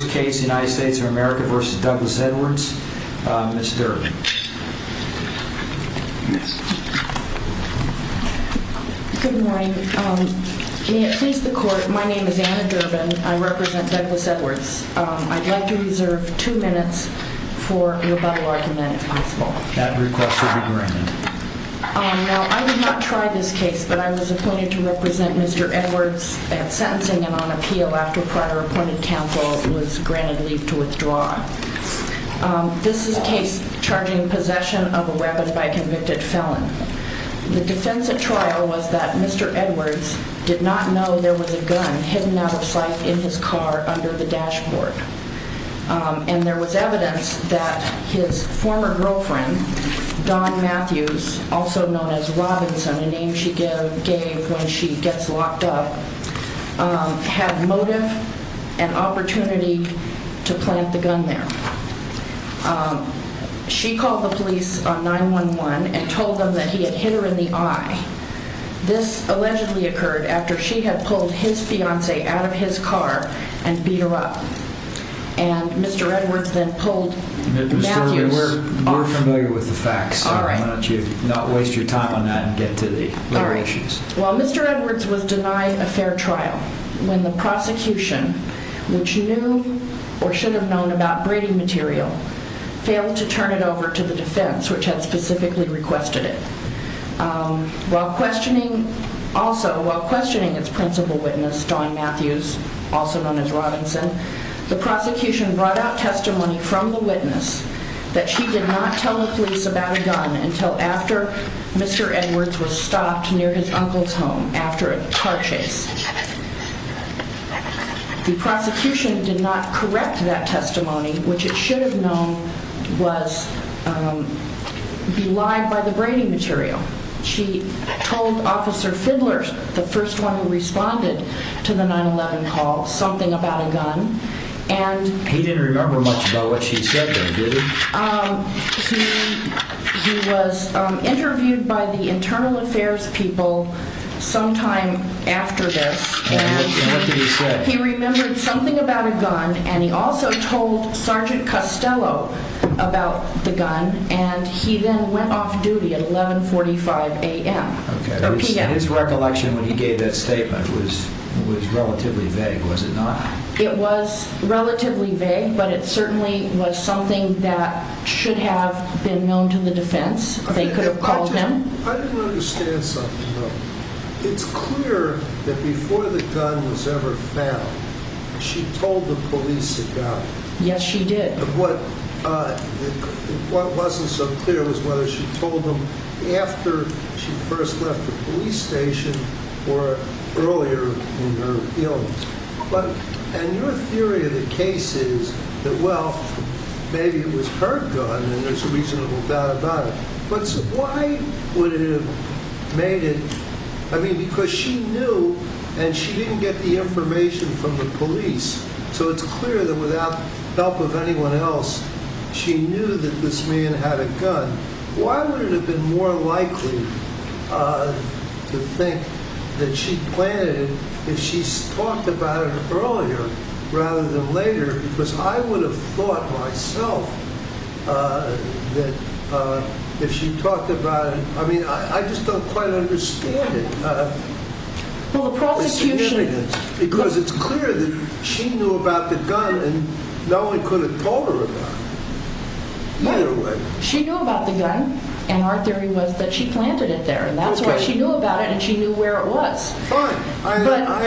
Ms. Durbin. Good morning. May it please the Court, my name is Anna Durbin. I represent Douglas Edwards. I'd like to reserve two minutes for rebuttal argument, if possible. That request will be granted. Now, I did not try this case, but I was appointed to represent Mr. Edwards at sentencing and on appeal after prior appointed counsel was granted leave to withdraw. This is a case charging possession of a weapon by a convicted felon. The defense at trial was that Mr. Edwards did not know there was a gun hidden out of sight in his car under the dashboard. And there was evidence that his former girlfriend, Dawn Matthews, also had motive and opportunity to plant the gun there. She called the police on 9-1-1 and told them that he had hit her in the eye. This allegedly occurred after she had pulled his fiancé out of his car and beat her up. And Mr. Edwards then pulled Matthews. Mr. Edwards, we're familiar with the facts. Why don't you not waste your time on that and While Mr. Edwards was denied a fair trial, when the prosecution, which knew or should have known about breeding material, failed to turn it over to the defense, which had specifically requested it. While questioning also, while questioning its principal witness, Dawn Matthews, also known as Robinson, the prosecution brought out testimony from the witness that she did not tell the police about a gun until after Mr. Edwards was stopped near his uncle's home after a car chase. The prosecution did not correct that testimony, which it should have known was belied by the breeding material. She told Officer Fidler, the first one who responded to the 9-1-1 call, something about a gun. And He didn't remember affairs people sometime after this. And he remembered something about a gun. And he also told Sergeant Costello about the gun. And he then went off duty at 1145 a.m. And his recollection when he gave that statement was relatively vague, was it not? It was relatively vague, but it certainly was something that should have been known to the defense. They could have called him. I didn't understand something, though. It's clear that before the gun was ever found, she told the police about it. Yes, she did. What wasn't so clear was whether she told them after she first left the police station or earlier in her appeal. And your theory of the case is that, well, maybe it was her gun and there's a reasonable doubt about it. But why would it have made it? I mean, because she knew and she didn't get the information from the police. So it's clear that without help of anyone else, she knew that this man had a gun. Why would it have been more likely to think that she planted it if she talked about it earlier rather than later? Because I would have thought myself that if she talked about it... I mean, I just don't quite understand it. Well, the prosecution... What's the evidence? Because it's clear that she knew about the gun and no one could have told her about it. Either way. She knew about the gun and our theory was that she planted it there. And that's why she knew about it and she knew where it was. Fine. I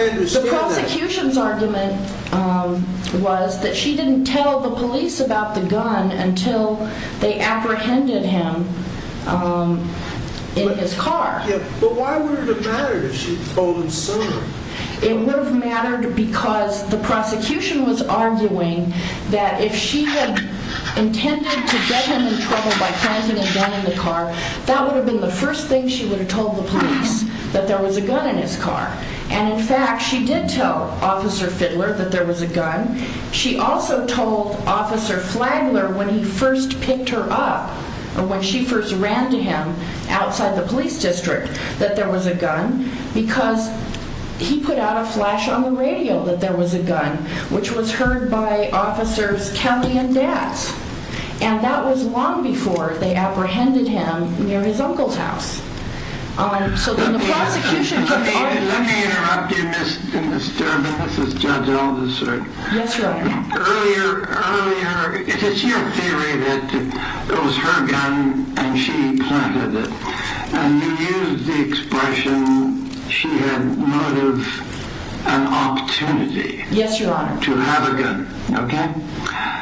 understand that. The prosecution's argument was that she didn't tell the police about the gun until they apprehended him in his car. But why would it have mattered if she told them sooner? It would have mattered because the prosecution was arguing that if she had intended to get him in trouble by planting a gun in the car, that would have been the first thing she would have told the police that there was a gun in his car. And in fact, she did tell Officer Fidler that there was a gun. She also told Officer Flagler when he first picked her up, when she first ran to him outside the police district, that there was a gun because he put out a flash on the radio that there was a gun, which was heard by officers Kelly and Let me interrupt you, Ms. Durbin. This is Judge Alderson. Yes, Your Honor. Earlier, it's your theory that it was her gun and she planted it. And you used the expression she had motive and opportunity to have a gun. Yes, Your Honor.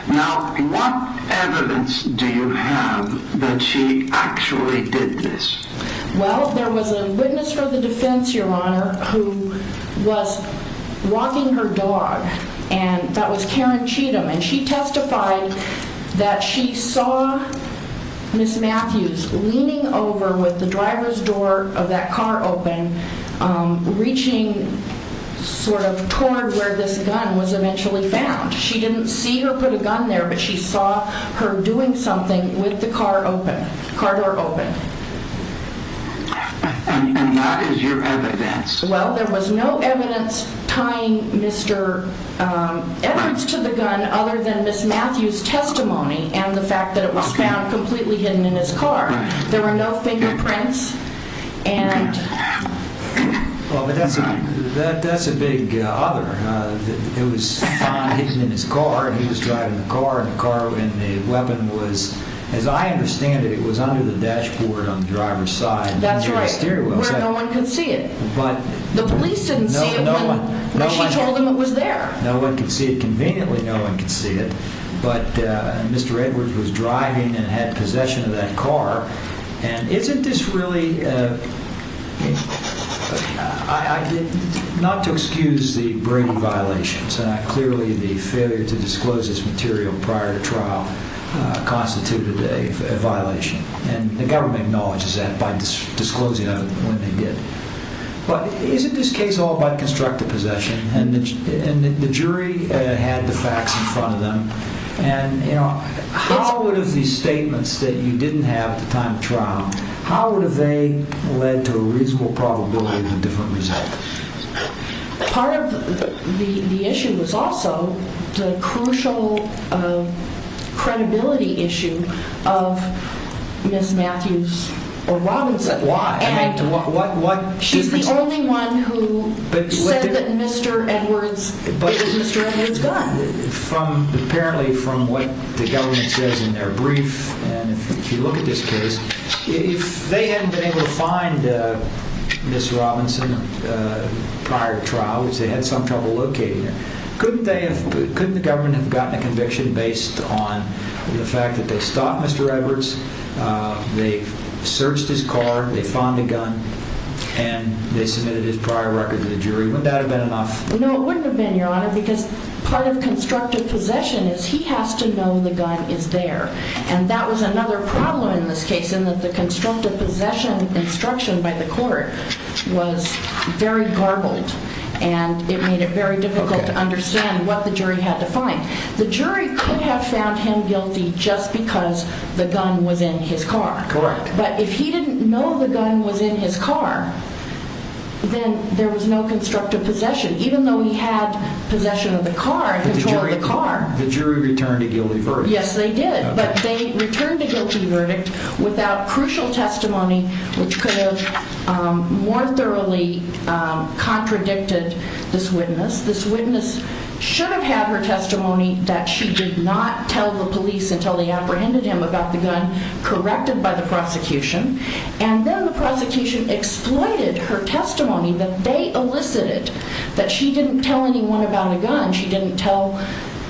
Now, what evidence do you have that she actually did this? Well, there was a witness for the defense, Your Honor, who was walking her dog, and that was Karen Cheatham. And she testified that she saw Ms. Matthews leaning over with the gun. She didn't see her put a gun there, but she saw her doing something with the car open, car door open. And that is your evidence? Well, there was no evidence tying Mr. Edwards to the gun other than Ms. Matthews' testimony and the fact that it was found completely hidden in his car. There were no fingerprints. Well, but that's a big other. It was found hidden in his car, and he was driving the car, and the weapon was, as I understand it, it was under the dashboard on the driver's side. That's right, where no one could see it. The police didn't see it when she told them it was there. No one could see it conveniently. No one could see it. But Mr. Edwards was driving and had So how would have they led to a reasonable probability of a different result? Part of the issue was also the crucial credibility issue of Ms. Matthews or Robinson. Why? And she's the only one who said that Mr. Edwards, it was Mr. Edwards' gun. Apparently, from what the government says in their brief, and if you look at this case, if they hadn't been able to find Ms. Robinson prior to trial, which they had some trouble locating her, couldn't the government have gotten a conviction based on the fact that they stopped Mr. Edwards, they searched his car, they found the gun, and they submitted his prior record to the jury? Wouldn't that have been enough? No, it wouldn't have been, Your Honor, because part of constructive possession is he has to know the gun is there. And that was another problem in this case in that the constructive possession instruction by the court was very garbled and it made it very difficult to understand what the jury had to find. The jury could have found him guilty just because the gun was in his car. Correct. But if he didn't know the gun was in his car, then there was no constructive possession, even though he had possession of the car and control of the car. But the jury returned a guilty verdict. Yes, they did, but they returned a guilty verdict without crucial testimony which could have more thoroughly contradicted this witness. This witness should have had her testimony that she did not tell the police until they apprehended him about the gun, corrected by the prosecution, and then the prosecution exploited her testimony that they elicited that she didn't tell anyone about a gun. She didn't tell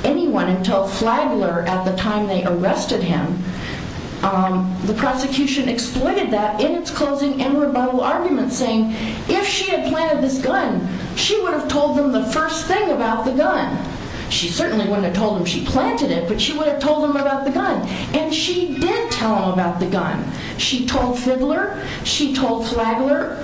anyone until Flagler at the time they arrested him. The prosecution exploited that in its closing and rebuttal argument saying if she had planted this gun, she would have told them the first thing about the gun. She certainly wouldn't have told them she planted it, but she would have told them about the gun. And she did tell them about the gun. She told Fiddler. She told Flagler.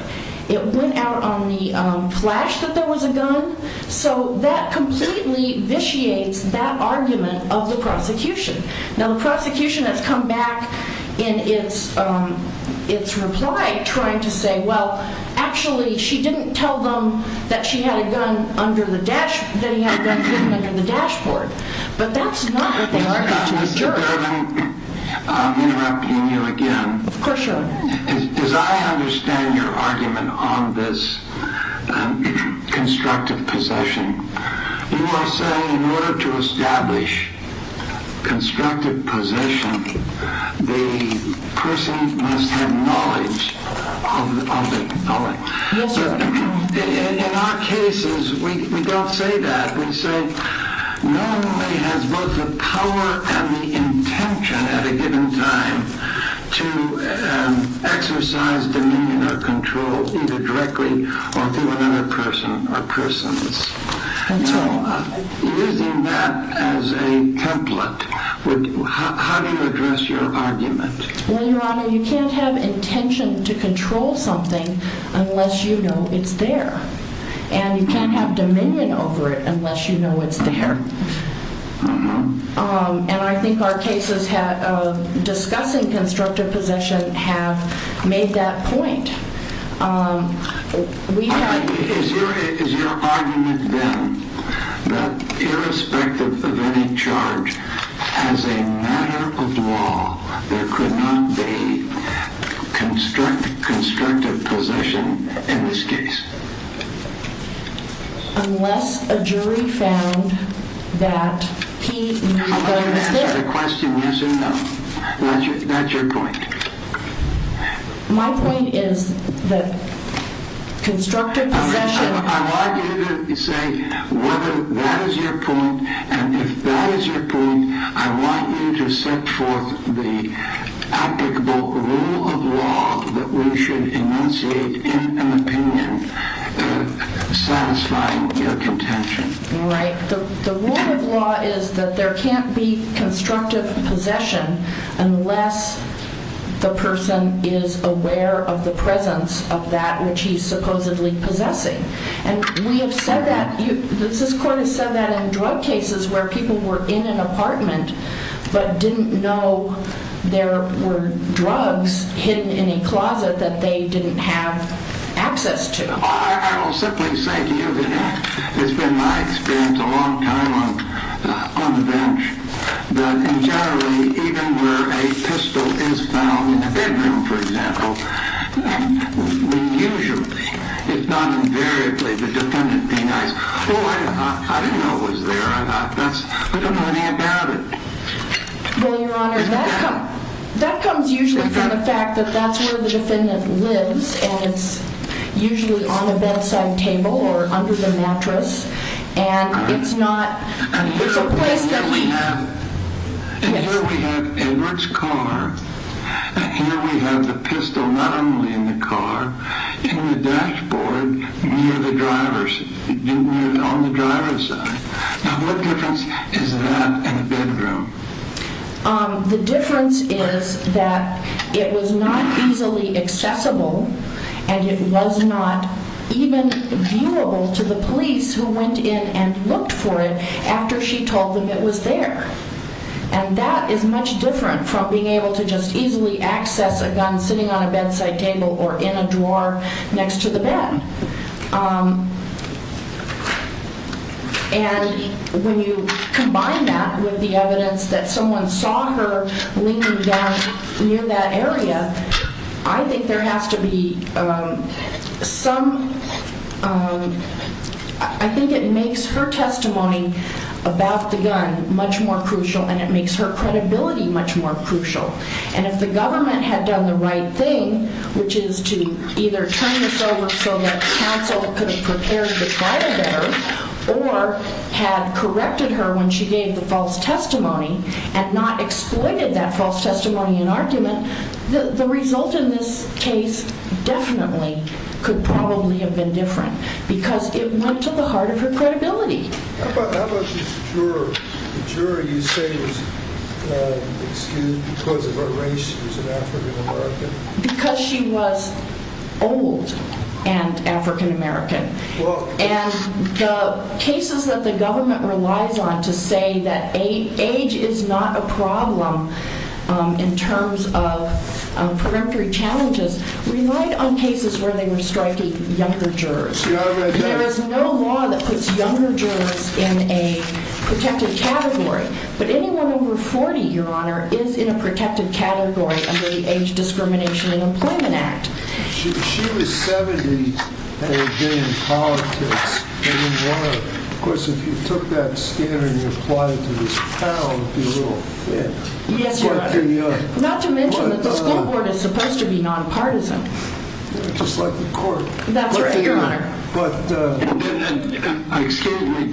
It went out on the flash that there was a gun. So that completely vitiates that argument of the prosecution. Now, the prosecution has come back in its reply trying to say, well, actually, she didn't tell them that she had a gun under the dash, that he had a gun hidden under the dashboard. But that's not what they argued to the judge. I'm interrupting you again. Of course you are. As I understand your argument on this constructive possession, you are saying in order to establish constructive possession, the person must have knowledge of the felon. Yes, sir. In our cases, we don't say that. We say normally has both the power and the intention at a given time to exercise dominion or control either directly or through another person or persons. Using that as a template, how do you address your argument? Well, Your Honor, you can't have intention to control something unless you know it's there. And you can't have dominion over it unless you know it's there. And I think our cases discussing constructive possession have made that point. Is your argument, then, that irrespective of any charge, as a matter of law, there could not be constructive possession in this case? Unless a jury found that he was going to sit. How about you answer the question yes or no. That's your point. My point is that constructive possession... I want you to say whether that is your point. And if that is your point, I want you to set forth the applicable rule of law that we should initiate in an opinion satisfying your contention. All right. The rule of law is that there can't be constructive possession unless the person is aware of the presence of that which he's supposedly possessing. And we have said that. This court has said that in drug cases where people were in an apartment but didn't know there were drugs hidden in a closet that they didn't have access to. I will simply say to you that it's been my experience a long time on the bench that in generally even where a pistol is found in a bedroom, for example, usually, if not invariably, the defendant denies, oh, I didn't know it was there. I don't know anything about it. Well, Your Honor, that comes usually from the fact that that's where the defendant lives and it's usually on a bedside table or under the mattress and it's not... And here we have Edward's car and here we have the pistol not only in the car, in the dashboard near the driver's, on the driver's side. Now, what difference is that in a bedroom? The difference is that it was not easily accessible and it was not even viewable to the police who went in and looked for it after she told them it was there. And that is much different from being able to just easily access a gun sitting on a bedside table or in a drawer next to the bed. And when you combine that with the evidence that someone saw her leaning down near that area, I think there has to be some... I think it makes her testimony about the gun much more crucial and it makes her credibility much more crucial. And if the government had done the right thing, which is to either turn this over so that counsel could have prepared the trial better or had corrected her when she gave the false testimony and not exploited that false testimony in argument, the result in this case definitely could probably have been different because it went to the heart of her credibility. How about this juror? The juror you say was excused because of her race. She was an African-American. Because she was old and African-American. And the cases that the government relies on to say that age is not a problem in terms of peremptory challenges relied on cases where they were striking younger jurors. There is no law that puts younger jurors in a protected category. But anyone over 40, Your Honor, is in a protected category under the Age Discrimination and Employment Act. She was 70 and had been in politics. Of course, if you took that standard and you applied it to this panel, it would be a little... Not to mention that the school court is supposed to be non-partisan. Just like the court. That's right, Your Honor. Excuse me.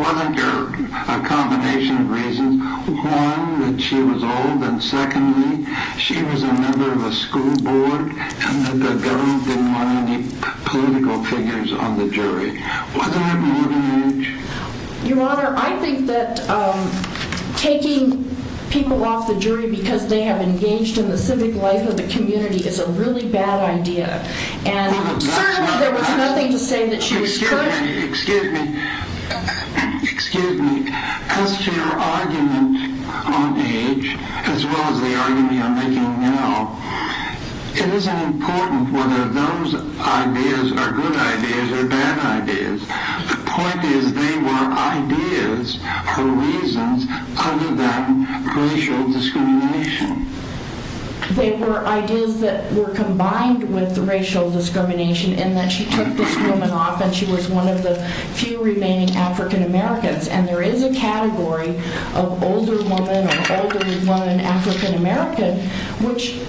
One of your combination of reasons. One, that she was old. And secondly, she was a member of a school board and that the government didn't want any political figures on the jury. Wasn't it more than age? Your Honor, I think that taking people off the jury because they have engaged in the civic life of the community is a really bad idea. And certainly there was nothing to say that she was... Excuse me. Excuse me. As to your argument on age, as well as the argument you're making now, it isn't important whether those ideas are good ideas or bad ideas. The point is they were ideas for reasons other than racial discrimination. They were ideas that were combined with racial discrimination in that she took this woman off and she was one of the few remaining African Americans. And there is a category of older women or elderly women, African American, which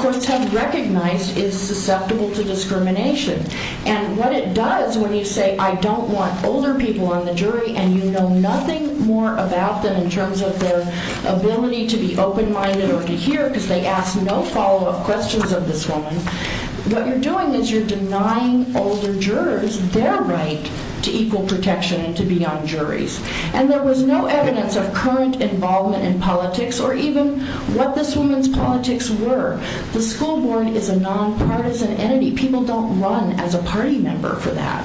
courts have recognized is susceptible to discrimination. And what it does when you say, I don't want older people on the jury and you know nothing more about them in terms of their ability to be open-minded or to hear because they ask no follow-up questions of this woman, what you're doing is you're denying older jurors their right to equal protection and to be on juries. And there was no evidence of current involvement in politics or even what this woman's politics were. The school board is a non-partisan entity. People don't run as a party member for that.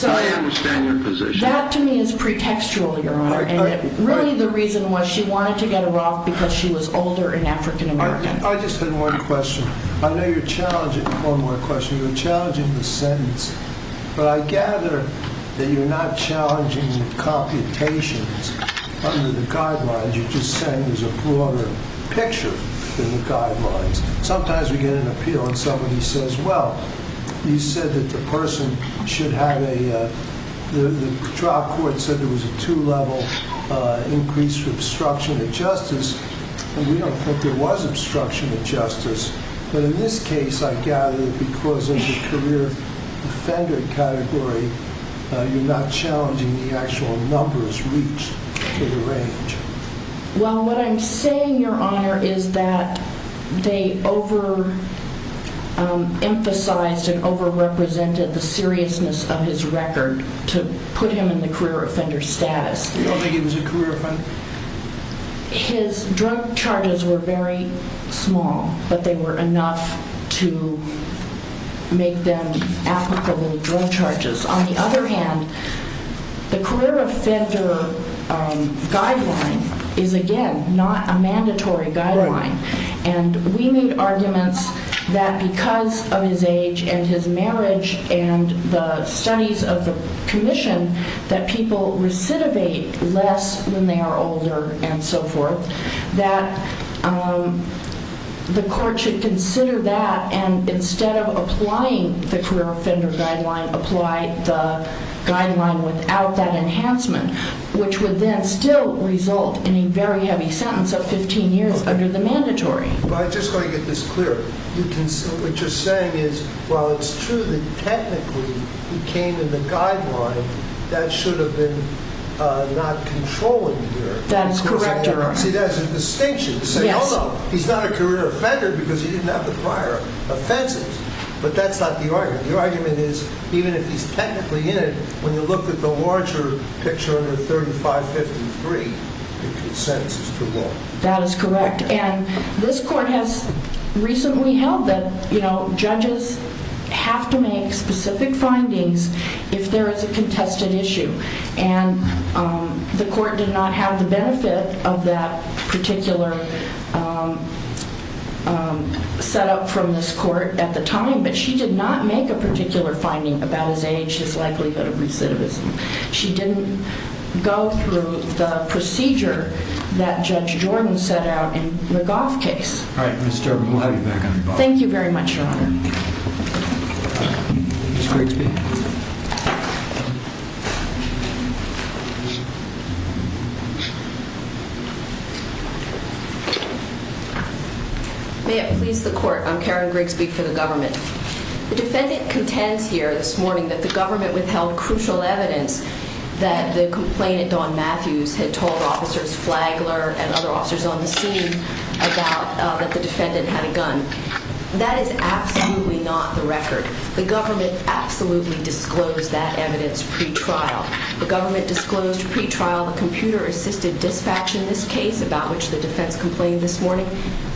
I understand your position. That to me is pretextual, Your Honor. And really the reason was she wanted to get her off because she was older and African American. I just had one question. I know you're challenging, one more question, you're challenging the limitations under the guidelines. You're just saying there's a broader picture than the guidelines. Sometimes we get an appeal and somebody says, well, you said that the person should have a, the trial court said there was a two-level increase for obstruction of justice. And we don't think there was obstruction of justice. But in this case, I gather because it's a career offender category, you're not challenging the actual numbers reached in the range. Well, what I'm saying, Your Honor, is that they over-emphasized and over-represented the seriousness of his record to put him in the career offender status. You don't think he was a career offender? His drug charges were very small, but they were enough to make them applicable drug charges. On the other hand, the career offender guideline is, again, not a mandatory guideline. And we made arguments that because of his age and his marriage and the studies of the older and so forth, that the court should consider that and instead of applying the career offender guideline, apply the guideline without that enhancement, which would then still result in a very heavy sentence of 15 years under the mandatory. But I just want to get this clear. What you're saying is, while it's true that technically he came in the guideline, that should have been not controlling here. That is correct, Your Honor. See, that's a distinction to say, although he's not a career offender because he didn't have the prior offenses, but that's not the argument. The argument is, even if he's technically in it, when you look at the larger picture under 3553, the sentence is too long. That is correct. And this court has recently held that judges have to make specific findings if there is a contested issue. And the court did not have the benefit of that particular setup from this court at the time, but she did not make a particular finding about his age, his likelihood of recidivism. She didn't go through the procedure that Judge Jordan set out in the Goff case. All right, Ms. Gerber, we'll have you back on the phone. Thank you very much, Your Honor. Ms. Grigsby. May it please the court, I'm Karen Grigsby for the government. The defendant contends here this morning that the government withheld crucial evidence that the complainant, Don Matthews, had told officers Flagler and other officers on the scene about that the defendant had a gun. That is absolutely not the record. The government absolutely disclosed that evidence pretrial. The government disclosed pretrial the computer-assisted dispatch in this case, about which the defense complained this morning.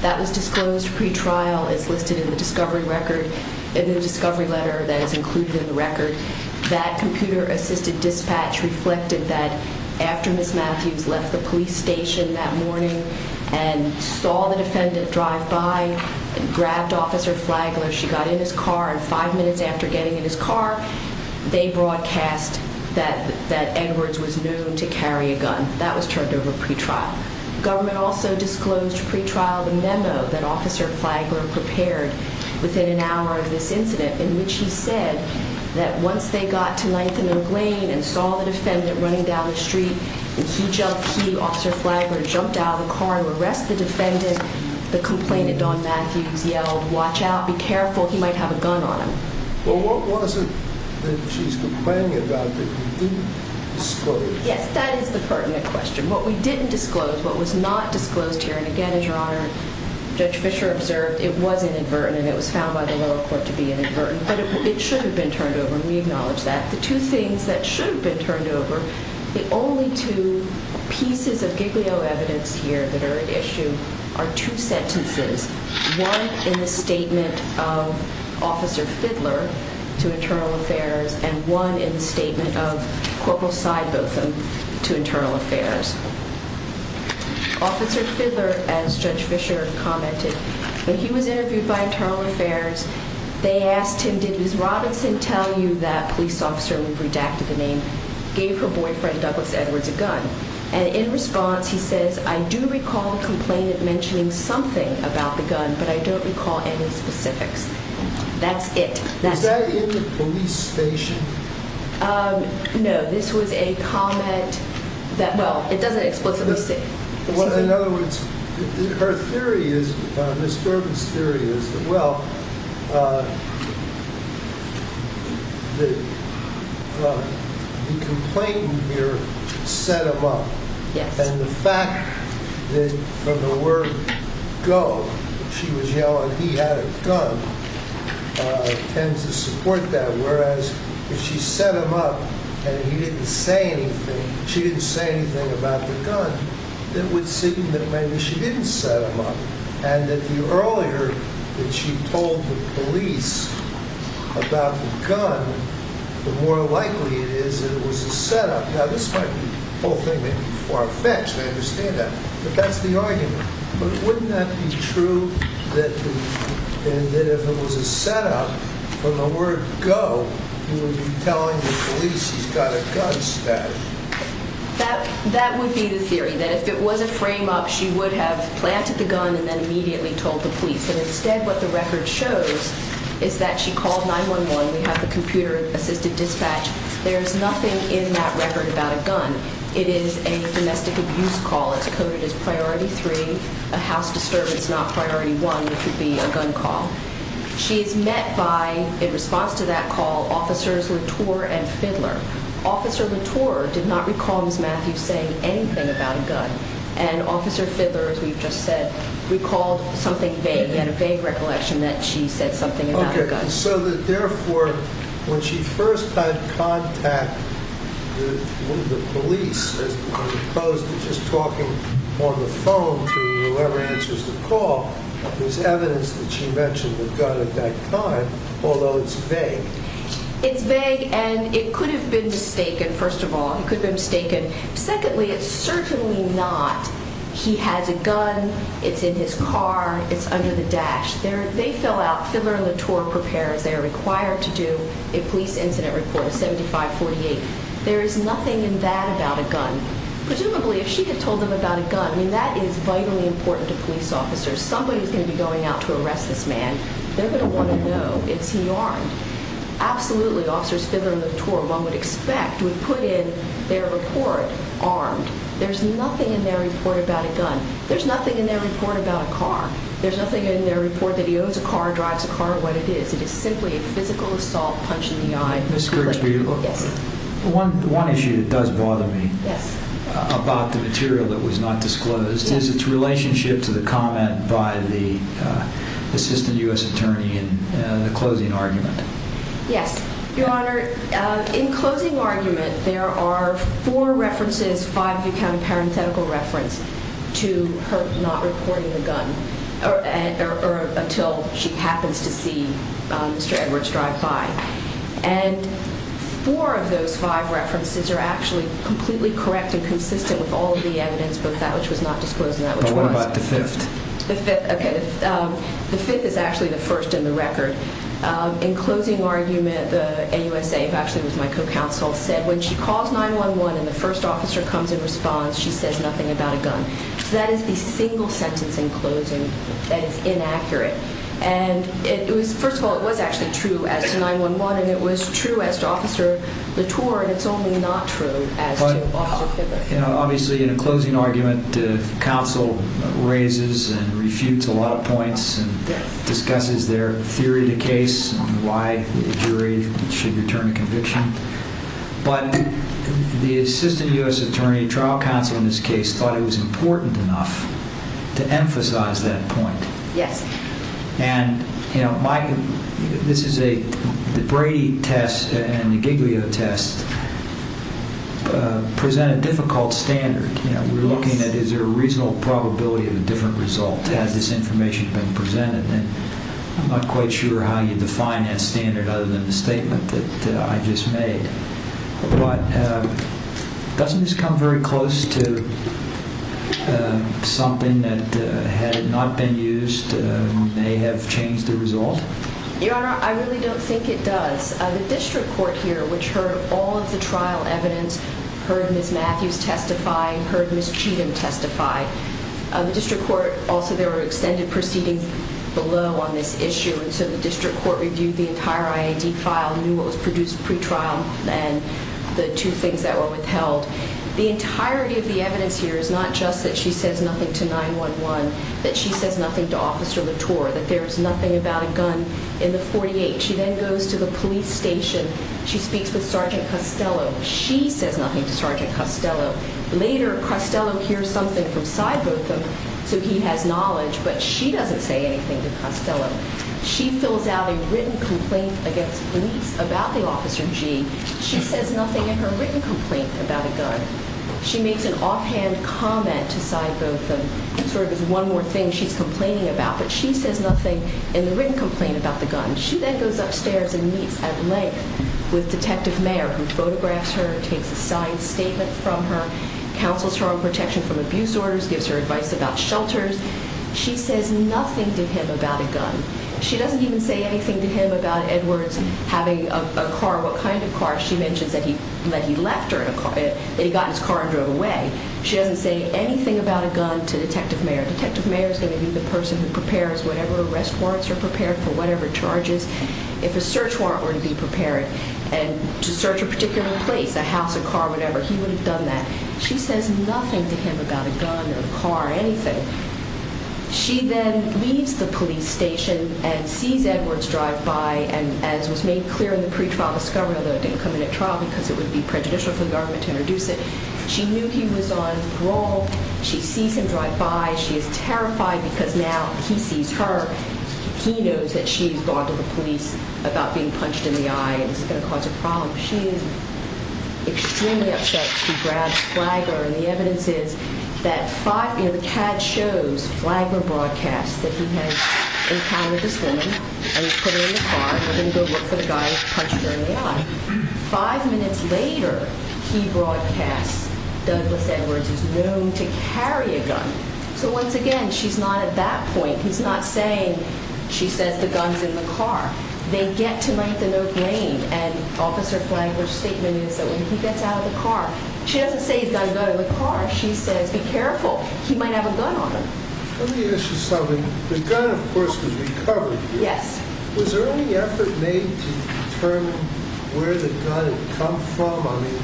That was disclosed pretrial. It's listed in the discovery record, in the discovery letter that is included in the record. That computer-assisted dispatch reflected that after Ms. Matthews left the police station that morning and saw the defendant drive by and grabbed Officer Flagler, she got in his car, and five minutes after getting in his car, they broadcast that Edwards was known to carry a gun. That was turned over pretrial. The government also disclosed pretrial the memo that Officer Flagler prepared within an hour of this incident, in which he said that once they got to 9th and Oak Lane and saw the defendant running down the street, he jumped, he, Officer Flagler, jumped out of the car to arrest the defendant. The complainant, Don Matthews, yelled, watch out, be careful, he might have a gun on him. Yes, that is the pertinent question. What we didn't disclose, what was not disclosed here, and again, as Your Honor, Judge Fischer observed, it was inadvertent, and it was found by the lower court to be inadvertent, but it should have been turned over, and we acknowledge that. The two things that should have been turned over, the only two pieces of giglio evidence here that are at issue are two sentences, one in the statement of Officer Fiddler to Internal Affairs. Officer Fiddler, as Judge Fischer commented, when he was interviewed by Internal Affairs, they asked him, did Ms. Robinson tell you that police officer, we've redacted the name, gave her boyfriend, Douglas Edwards, a gun? And in response, he says, I do recall the complainant mentioning something about the gun, but I don't recall any specifics. That's it. Is that in the police station? No, this was a comment that, well, it doesn't explicitly say. In other words, her theory is, Ms. Durbin's theory is, well, the complainant here set him up, and the fact that from the word go, she was yelling he had a gun, tends to support that, whereas if she set him up and he didn't say anything, she didn't say anything about the gun, then it would seem that maybe she didn't set him up, and that the earlier that she told the police about the gun, the more likely it is that it was a setup. Now, this might be, the whole thing may be far-fetched, I understand that, but that's the argument. But wouldn't that be true that if it was a setup, from the word go, he would be telling the police he's got a gun stashed? That would be the theory, that if it was a frame-up, she would have planted the gun and then immediately told the police, and instead what the record shows is that she called 911. We have the computer-assisted dispatch. There is nothing in that record about a gun. It is a domestic abuse call. It's coded as Priority 3, a house disturbance, not Priority 1, which would be a gun call. She is met by, in response to that call, Officers Latour and Fidler. Officer Latour did not recall Ms. Matthews saying anything about a gun, and Officer Fidler, as we've just said, recalled something vague. He had a vague recollection that she said something about a gun. And so that, therefore, when she first had contact with the police, as opposed to just talking on the phone to whoever answers the call, there's evidence that she mentioned the gun at that time, although it's vague. It's vague, and it could have been mistaken, first of all. It could have been mistaken. Secondly, it's certainly not, he has a gun, it's in his car, it's under the dash. They fell out. Fidler and Latour prepare, as they are required to do, a police incident report, a 7548. There is nothing in that about a gun. Presumably, if she had told them about a gun, I mean, that is vitally important to police officers. Somebody's going to be going out to arrest this man. They're going to want to know, is he armed? Absolutely, Officers Fidler and Latour, one would expect, would put in their report armed. There's nothing in their report about a gun. There's nothing in their report about a car. There's nothing in their report that he owns a car, drives a car, or what it is. It is simply a physical assault, punch in the eye. Ms. Grigsby, one issue that does bother me about the material that was not disclosed is its relationship to the comment by the Assistant U.S. Attorney in the closing argument. Yes, Your Honor, in closing argument, there are four references, and there is five, if you count a parenthetical reference, to her not reporting the gun or until she happens to see Mr. Edwards drive by. And four of those five references are actually completely correct and consistent with all of the evidence, both that which was not disclosed and that which was. But what about the fifth? The fifth, okay, the fifth is actually the first in the record. In closing argument, the AUSA, who actually was my co-counsel, said, when she calls 911 and the first officer comes in response, she says nothing about a gun. So that is the single sentence in closing that is inaccurate. And it was, first of all, it was actually true as to 911, and it was true as to Officer Latour, and it's only not true as to Officer Pippa. Obviously, in a closing argument, counsel raises and refutes a lot of points and discusses their theory of the case and why the jury should return a conviction. But the assistant U.S. attorney, trial counsel in this case, thought it was important enough to emphasize that point. Yes. And, you know, this is a, the Brady test and the Giglio test present a difficult standard. You know, we're looking at is there a reasonable probability of a different result as this information has been presented. And I'm not quite sure how you define that standard other than the statement that I just made. But doesn't this come very close to something that had not been used may have changed the result? Your Honor, I really don't think it does. The district court here, which heard all of the trial evidence, heard Ms. Matthews testify, heard Ms. Cheatham testify. The district court also, there were extended proceedings below on this issue, and so the district court reviewed the entire I.A.D. file, knew what was produced pre-trial, and the two things that were withheld. The entirety of the evidence here is not just that she says nothing to 911, that she says nothing to Officer Latour, that there is nothing about a gun in the 48. She then goes to the police station. She speaks with Sergeant Costello. She says nothing to Sergeant Costello. Later, Costello hears something from Cy Botham, so he has knowledge, but she doesn't say anything to Costello. She fills out a written complaint against police about the Officer G. She says nothing in her written complaint about a gun. She makes an offhand comment to Cy Botham, sort of as one more thing she's complaining about, but she says nothing in the written complaint about the gun. She then goes upstairs and meets at length with Detective Mayer, who photographs her and takes a signed statement from her, counsels her on protection from abuse orders, gives her advice about shelters. She says nothing to him about a gun. She doesn't even say anything to him about Edwards having a car, what kind of car. She mentions that he left her in a car, that he got in his car and drove away. She doesn't say anything about a gun to Detective Mayer. Detective Mayer is going to be the person who prepares whatever arrest warrants are prepared for whatever charges. If a search warrant were to be prepared to search a particular place, a house, a car, whatever, he would have done that. She says nothing to him about a gun or a car, anything. She then leaves the police station and sees Edwards drive by and, as was made clear in the pretrial discovery, although it didn't come in at trial because it would be prejudicial for the government to introduce it, she knew he was on parole. She sees him drive by. She is terrified because now he sees her. He knows that she has gone to the police about being punched in the eye and this is going to cause a problem. She is extremely upset. She grabs Flagler, and the evidence is that five – you know, the CAD shows Flagler broadcasts that he has encountered this woman and he's put her in the car and they're going to go look for the guy who punched her in the eye. Five minutes later, he broadcasts Douglas Edwards is known to carry a gun. So once again, she's not at that point. He's not saying – she says the gun's in the car. They get to make the no-blame and Officer Flagler's statement is that when he gets out of the car – she doesn't say he's got a gun in the car. She says be careful. He might have a gun on him. Let me ask you something. The gun, of course, was recovered. Yes. Was there any effort made to determine where the gun had come from? I mean,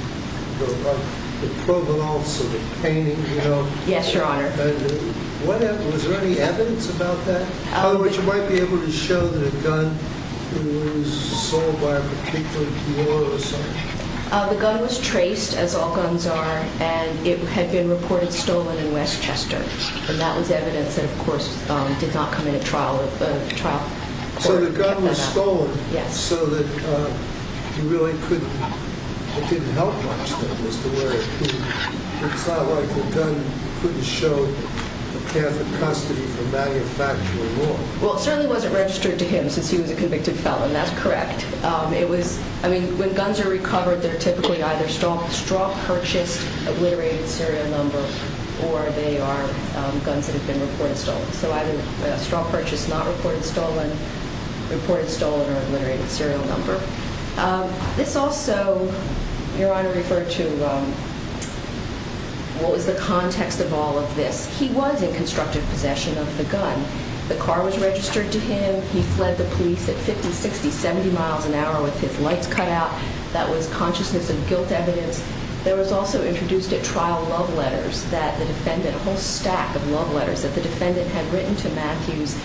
the provenance of the painting, you know. Yes, Your Honor. Was there any evidence about that? In other words, you might be able to show that a gun was sold by a particular dealer or something. The gun was traced, as all guns are, and it had been reported stolen in Westchester. And that was evidence that, of course, did not come in at trial. So the gun was stolen. Yes. So that you really couldn't – it didn't help much, then, as to where it could – it's not like the gun couldn't show the path of custody for manufacturing law. Well, it certainly wasn't registered to him since he was a convicted felon. That's correct. It was – I mean, when guns are recovered, they're typically either straw-purchased, obliterated serial number, or they are guns that have been reported stolen. So either a straw purchase not reported stolen, reported stolen, or obliterated serial number. This also, Your Honor, referred to what was the context of all of this. He was in constructive possession of the gun. The car was registered to him. He fled the police at 50, 60, 70 miles an hour with his lights cut out. That was consciousness of guilt evidence. There was also introduced at trial love letters that the defendant – that the defendant had written to Matthews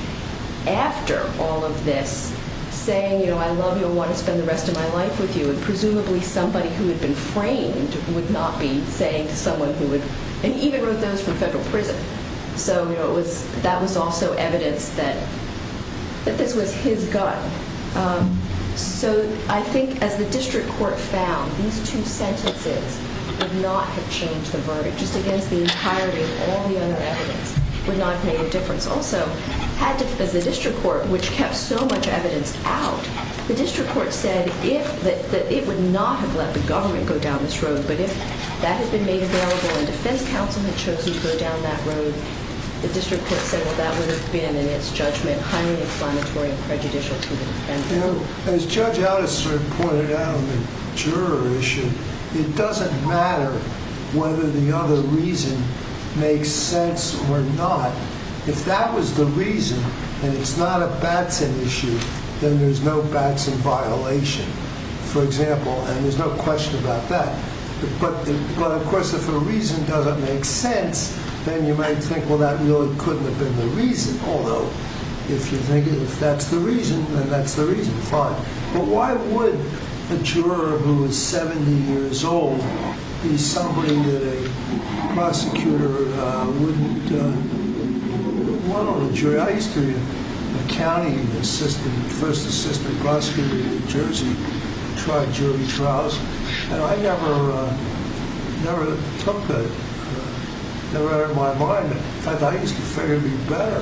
after all of this, saying, you know, I love you and want to spend the rest of my life with you. And presumably somebody who had been framed would not be saying to someone who would – and even wrote those from federal prison. So, you know, it was – that was also evidence that this was his gun. So I think as the district court found, these two sentences would not have changed the verdict, just against the entirety of all the other evidence, would not have made a difference. Also, as the district court, which kept so much evidence out, the district court said that it would not have let the government go down this road, but if that had been made available and defense counsel had chosen to go down that road, the district could have said, well, that would have been, in its judgment, highly explanatory and prejudicial to the defendant. You know, as Judge Addis sort of pointed out on the juror issue, it doesn't matter whether the other reason makes sense or not. If that was the reason and it's not a Batson issue, then there's no Batson violation, for example. And there's no question about that. But of course, if a reason doesn't make sense, then you might think, well, that really couldn't have been the reason. Although, if you think that's the reason, then that's the reason. Fine. But why would a juror who is 70 years old be somebody that a prosecutor wouldn't want on a jury? I used to be a county assistant, first assistant prosecutor in New Jersey, tried jury trials. And I never took that out of my mind. In fact, I used to figure it would be better.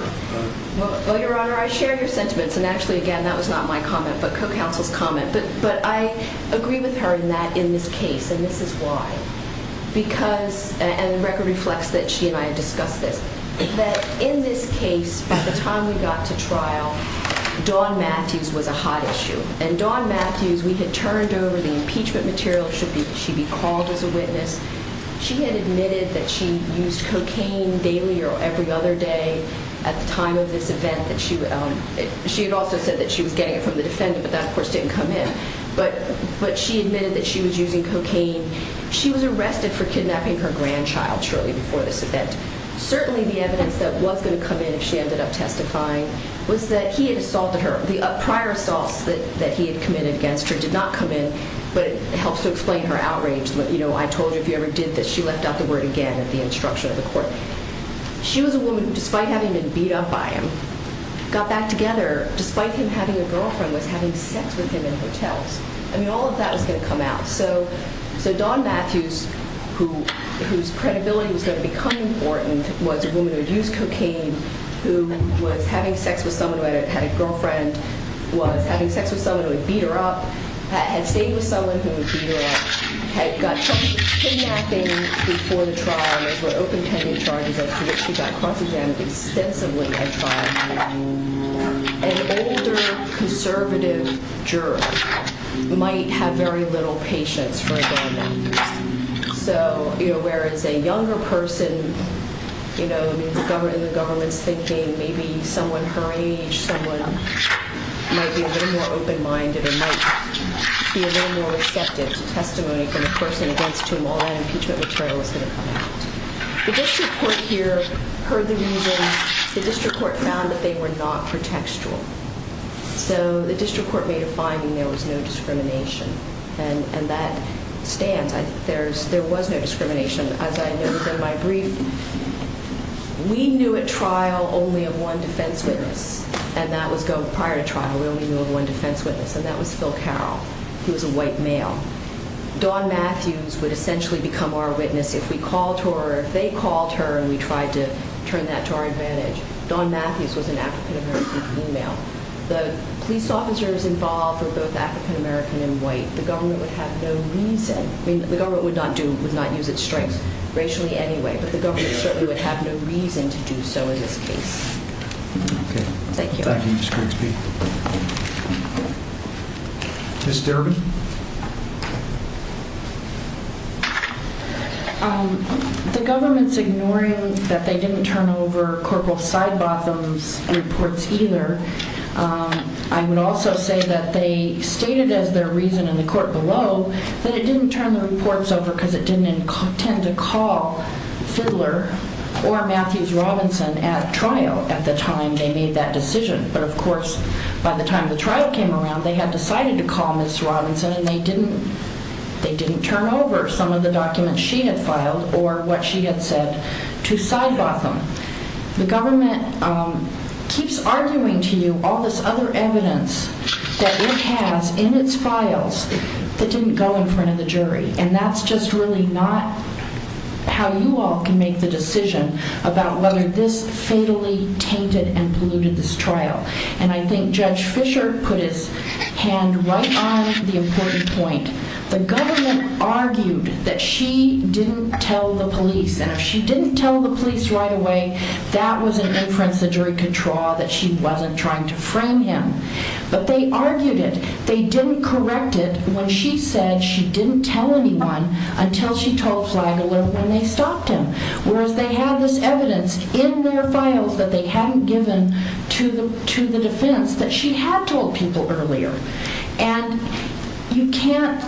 Well, Your Honor, I share your sentiments. And actually, again, that was not my comment, but co-counsel's comment. But I agree with her in that, in this case, and this is why. Because, and the record reflects that she and I had discussed this, that in this case, by the time we got to trial, Don Matthews was a hot issue. And Don Matthews, we had turned over the impeachment material. She'd be called as a witness. She had admitted that she used cocaine daily or every other day at the time of this event. She had also said that she was getting it from the defendant, but that, of course, didn't come in. But she admitted that she was using cocaine. She was arrested for kidnapping her grandchild shortly before this event. Certainly, the evidence that was going to come in if she ended up testifying was that he had assaulted her. The prior assaults that he had committed against her did not come in, but it helps to explain her outrage. You know, I told you if you ever did this, she left out the word again at the instruction of the court. She was a woman who, despite having been beat up by him, got back together, despite him having a girlfriend, was having sex with him in hotels. I mean, all of that was going to come out. So Don Matthews, whose credibility was going to become important, was a woman who had used cocaine, who was having sex with someone who had a girlfriend, was having sex with someone who had beat her up, had stayed with someone who had beat her up, had got trouble with kidnapping before the trial. Those were open-ended charges of which she got cross-examined extensively at trial. An older, conservative juror might have very little patience for Don Matthews. So, you know, whereas a younger person, you know, in the government's thinking, maybe someone her age, someone might be a little more open-minded or might be a little more receptive to testimony from a person against whom all that impeachment material was going to come out. The district court here heard the reasons. The district court found that they were not pretextual. So the district court made a finding there was no discrimination, and that stands. There was no discrimination. As I noted in my brief, we knew at trial only of one defense witness, and that was prior to trial, we only knew of one defense witness, and that was Phil Carroll, who was a white male. Don Matthews would essentially become our witness if we called her or if they called her and we tried to turn that to our advantage. Don Matthews was an African-American female. The police officers involved were both African-American and white. The government would have no reason. I mean, the government would not use its strengths, racially anyway, but the government certainly would have no reason to do so in this case. Okay. Thank you. Thank you. Ms. Derby? The government's ignoring that they didn't turn over Corporal Sidebotham's reports either. I would also say that they stated as their reason in the court below that it didn't turn the reports over because it didn't intend to call Fidler or Matthews Robinson at trial at the time they made that decision. But, of course, by the time the trial came around, they had decided to call Ms. Robinson and they didn't turn over some of the documents she had filed or what she had said to Sidebotham. The government keeps arguing to you all this other evidence that it has in its files that didn't go in front of the jury, and that's just really not how you all can make the decision about whether this fatally tainted and polluted this trial. And I think Judge Fisher put his hand right on the important point. The government argued that she didn't tell the police, and if she didn't tell the police right away, that was an inference the jury could draw that she wasn't trying to frame him. But they argued it. They didn't correct it when she said she didn't tell anyone until she told Flagler when they stopped him, whereas they had this evidence in their files that they hadn't given to the defense that she had told people earlier. And you can't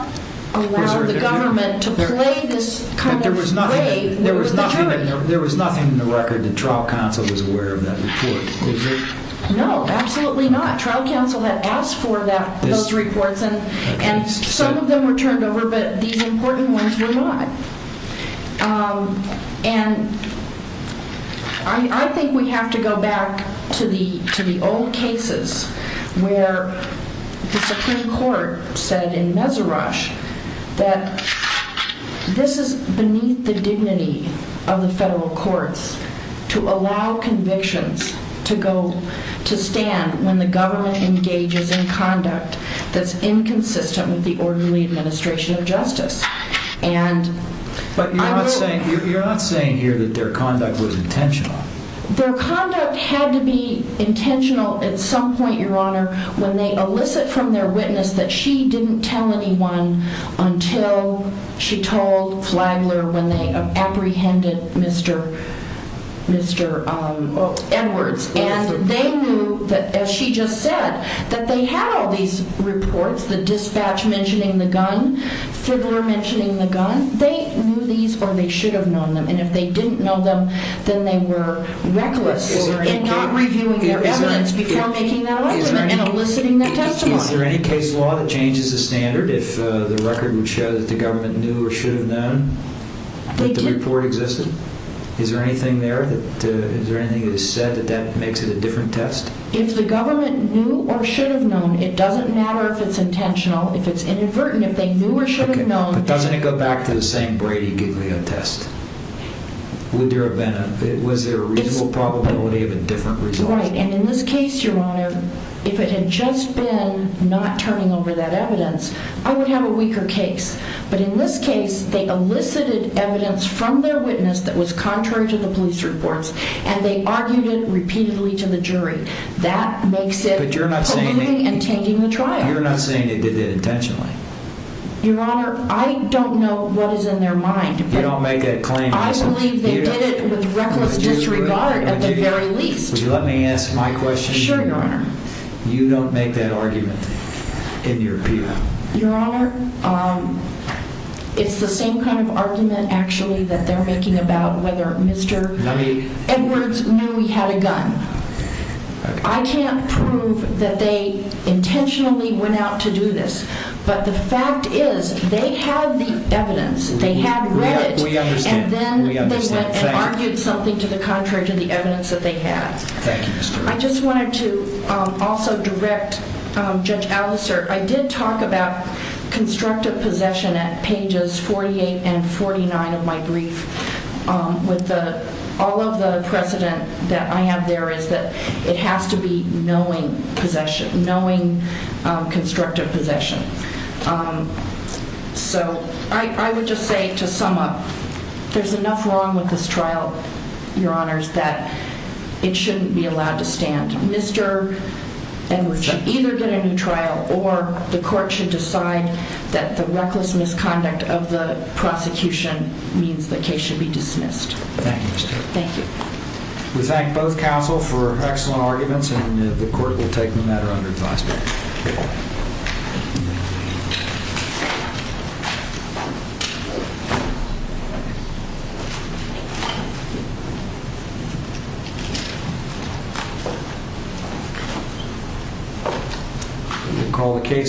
allow the government to play this kind of grave. There was nothing in the record that trial counsel was aware of that report, is there? No, absolutely not. Trial counsel had asked for those reports and some of them were turned over, but these important ones were not. And I think we have to go back to the old cases where the Supreme Court said in Meserash that this is beneath the dignity of the federal courts to allow convictions to stand when the government engages in conduct that's inconsistent with the orderly administration of justice. But you're not saying here that their conduct was intentional. Their conduct had to be intentional at some point, Your Honor, when they elicit from their witness that she didn't tell anyone until she told Flagler when they apprehended Mr. Edwards. And they knew, as she just said, that they had all these reports, the dispatch mentioning the gun, Fribbler mentioning the gun. They knew these or they should have known them. And if they didn't know them, then they were reckless in not reviewing their evidence before making that argument and eliciting their testimony. Is there any case law that changes the standard if the record would show that the government knew or should have known that the report existed? Is there anything there that is said that makes it a different test? If the government knew or should have known, it doesn't matter if it's intentional, if it's inadvertent, if they knew or should have known. Okay, but doesn't it go back to the same Brady-Giglio test? Was there a reasonable probability of a different result? Right, and in this case, Your Honor, if it had just been not turning over that evidence, I would have a weaker case. But in this case, they elicited evidence from their witness that was contrary to the police reports, and they argued it repeatedly to the jury. That makes it colluding and changing the trial. But you're not saying they did it intentionally. Your Honor, I don't know what is in their mind. You don't make that claim. I believe they did it with reckless disregard at the very least. Would you let me ask my question? Sure, Your Honor. You don't make that argument in your appeal? Your Honor, it's the same kind of argument, actually, that they're making about whether Mr. Edwards knew he had a gun. I can't prove that they intentionally went out to do this, but the fact is they had the evidence, they had read it, and then they went and argued something to the contrary to the evidence that they had. I just wanted to also direct Judge Alliser. I did talk about constructive possession at pages 48 and 49 of my brief with all of the precedent that I have there is that it has to be knowing possession, knowing constructive possession. So I would just say to sum up, there's enough wrong with this trial, Your Honors, that it shouldn't be allowed to stand. Mr. Edwards should either get a new trial or the court should decide that the reckless misconduct of the prosecution means the case should be dismissed. Thank you, Ms. Taylor. Thank you. We thank both counsel for excellent arguments, and the court will take the matter under advisory. Thank you.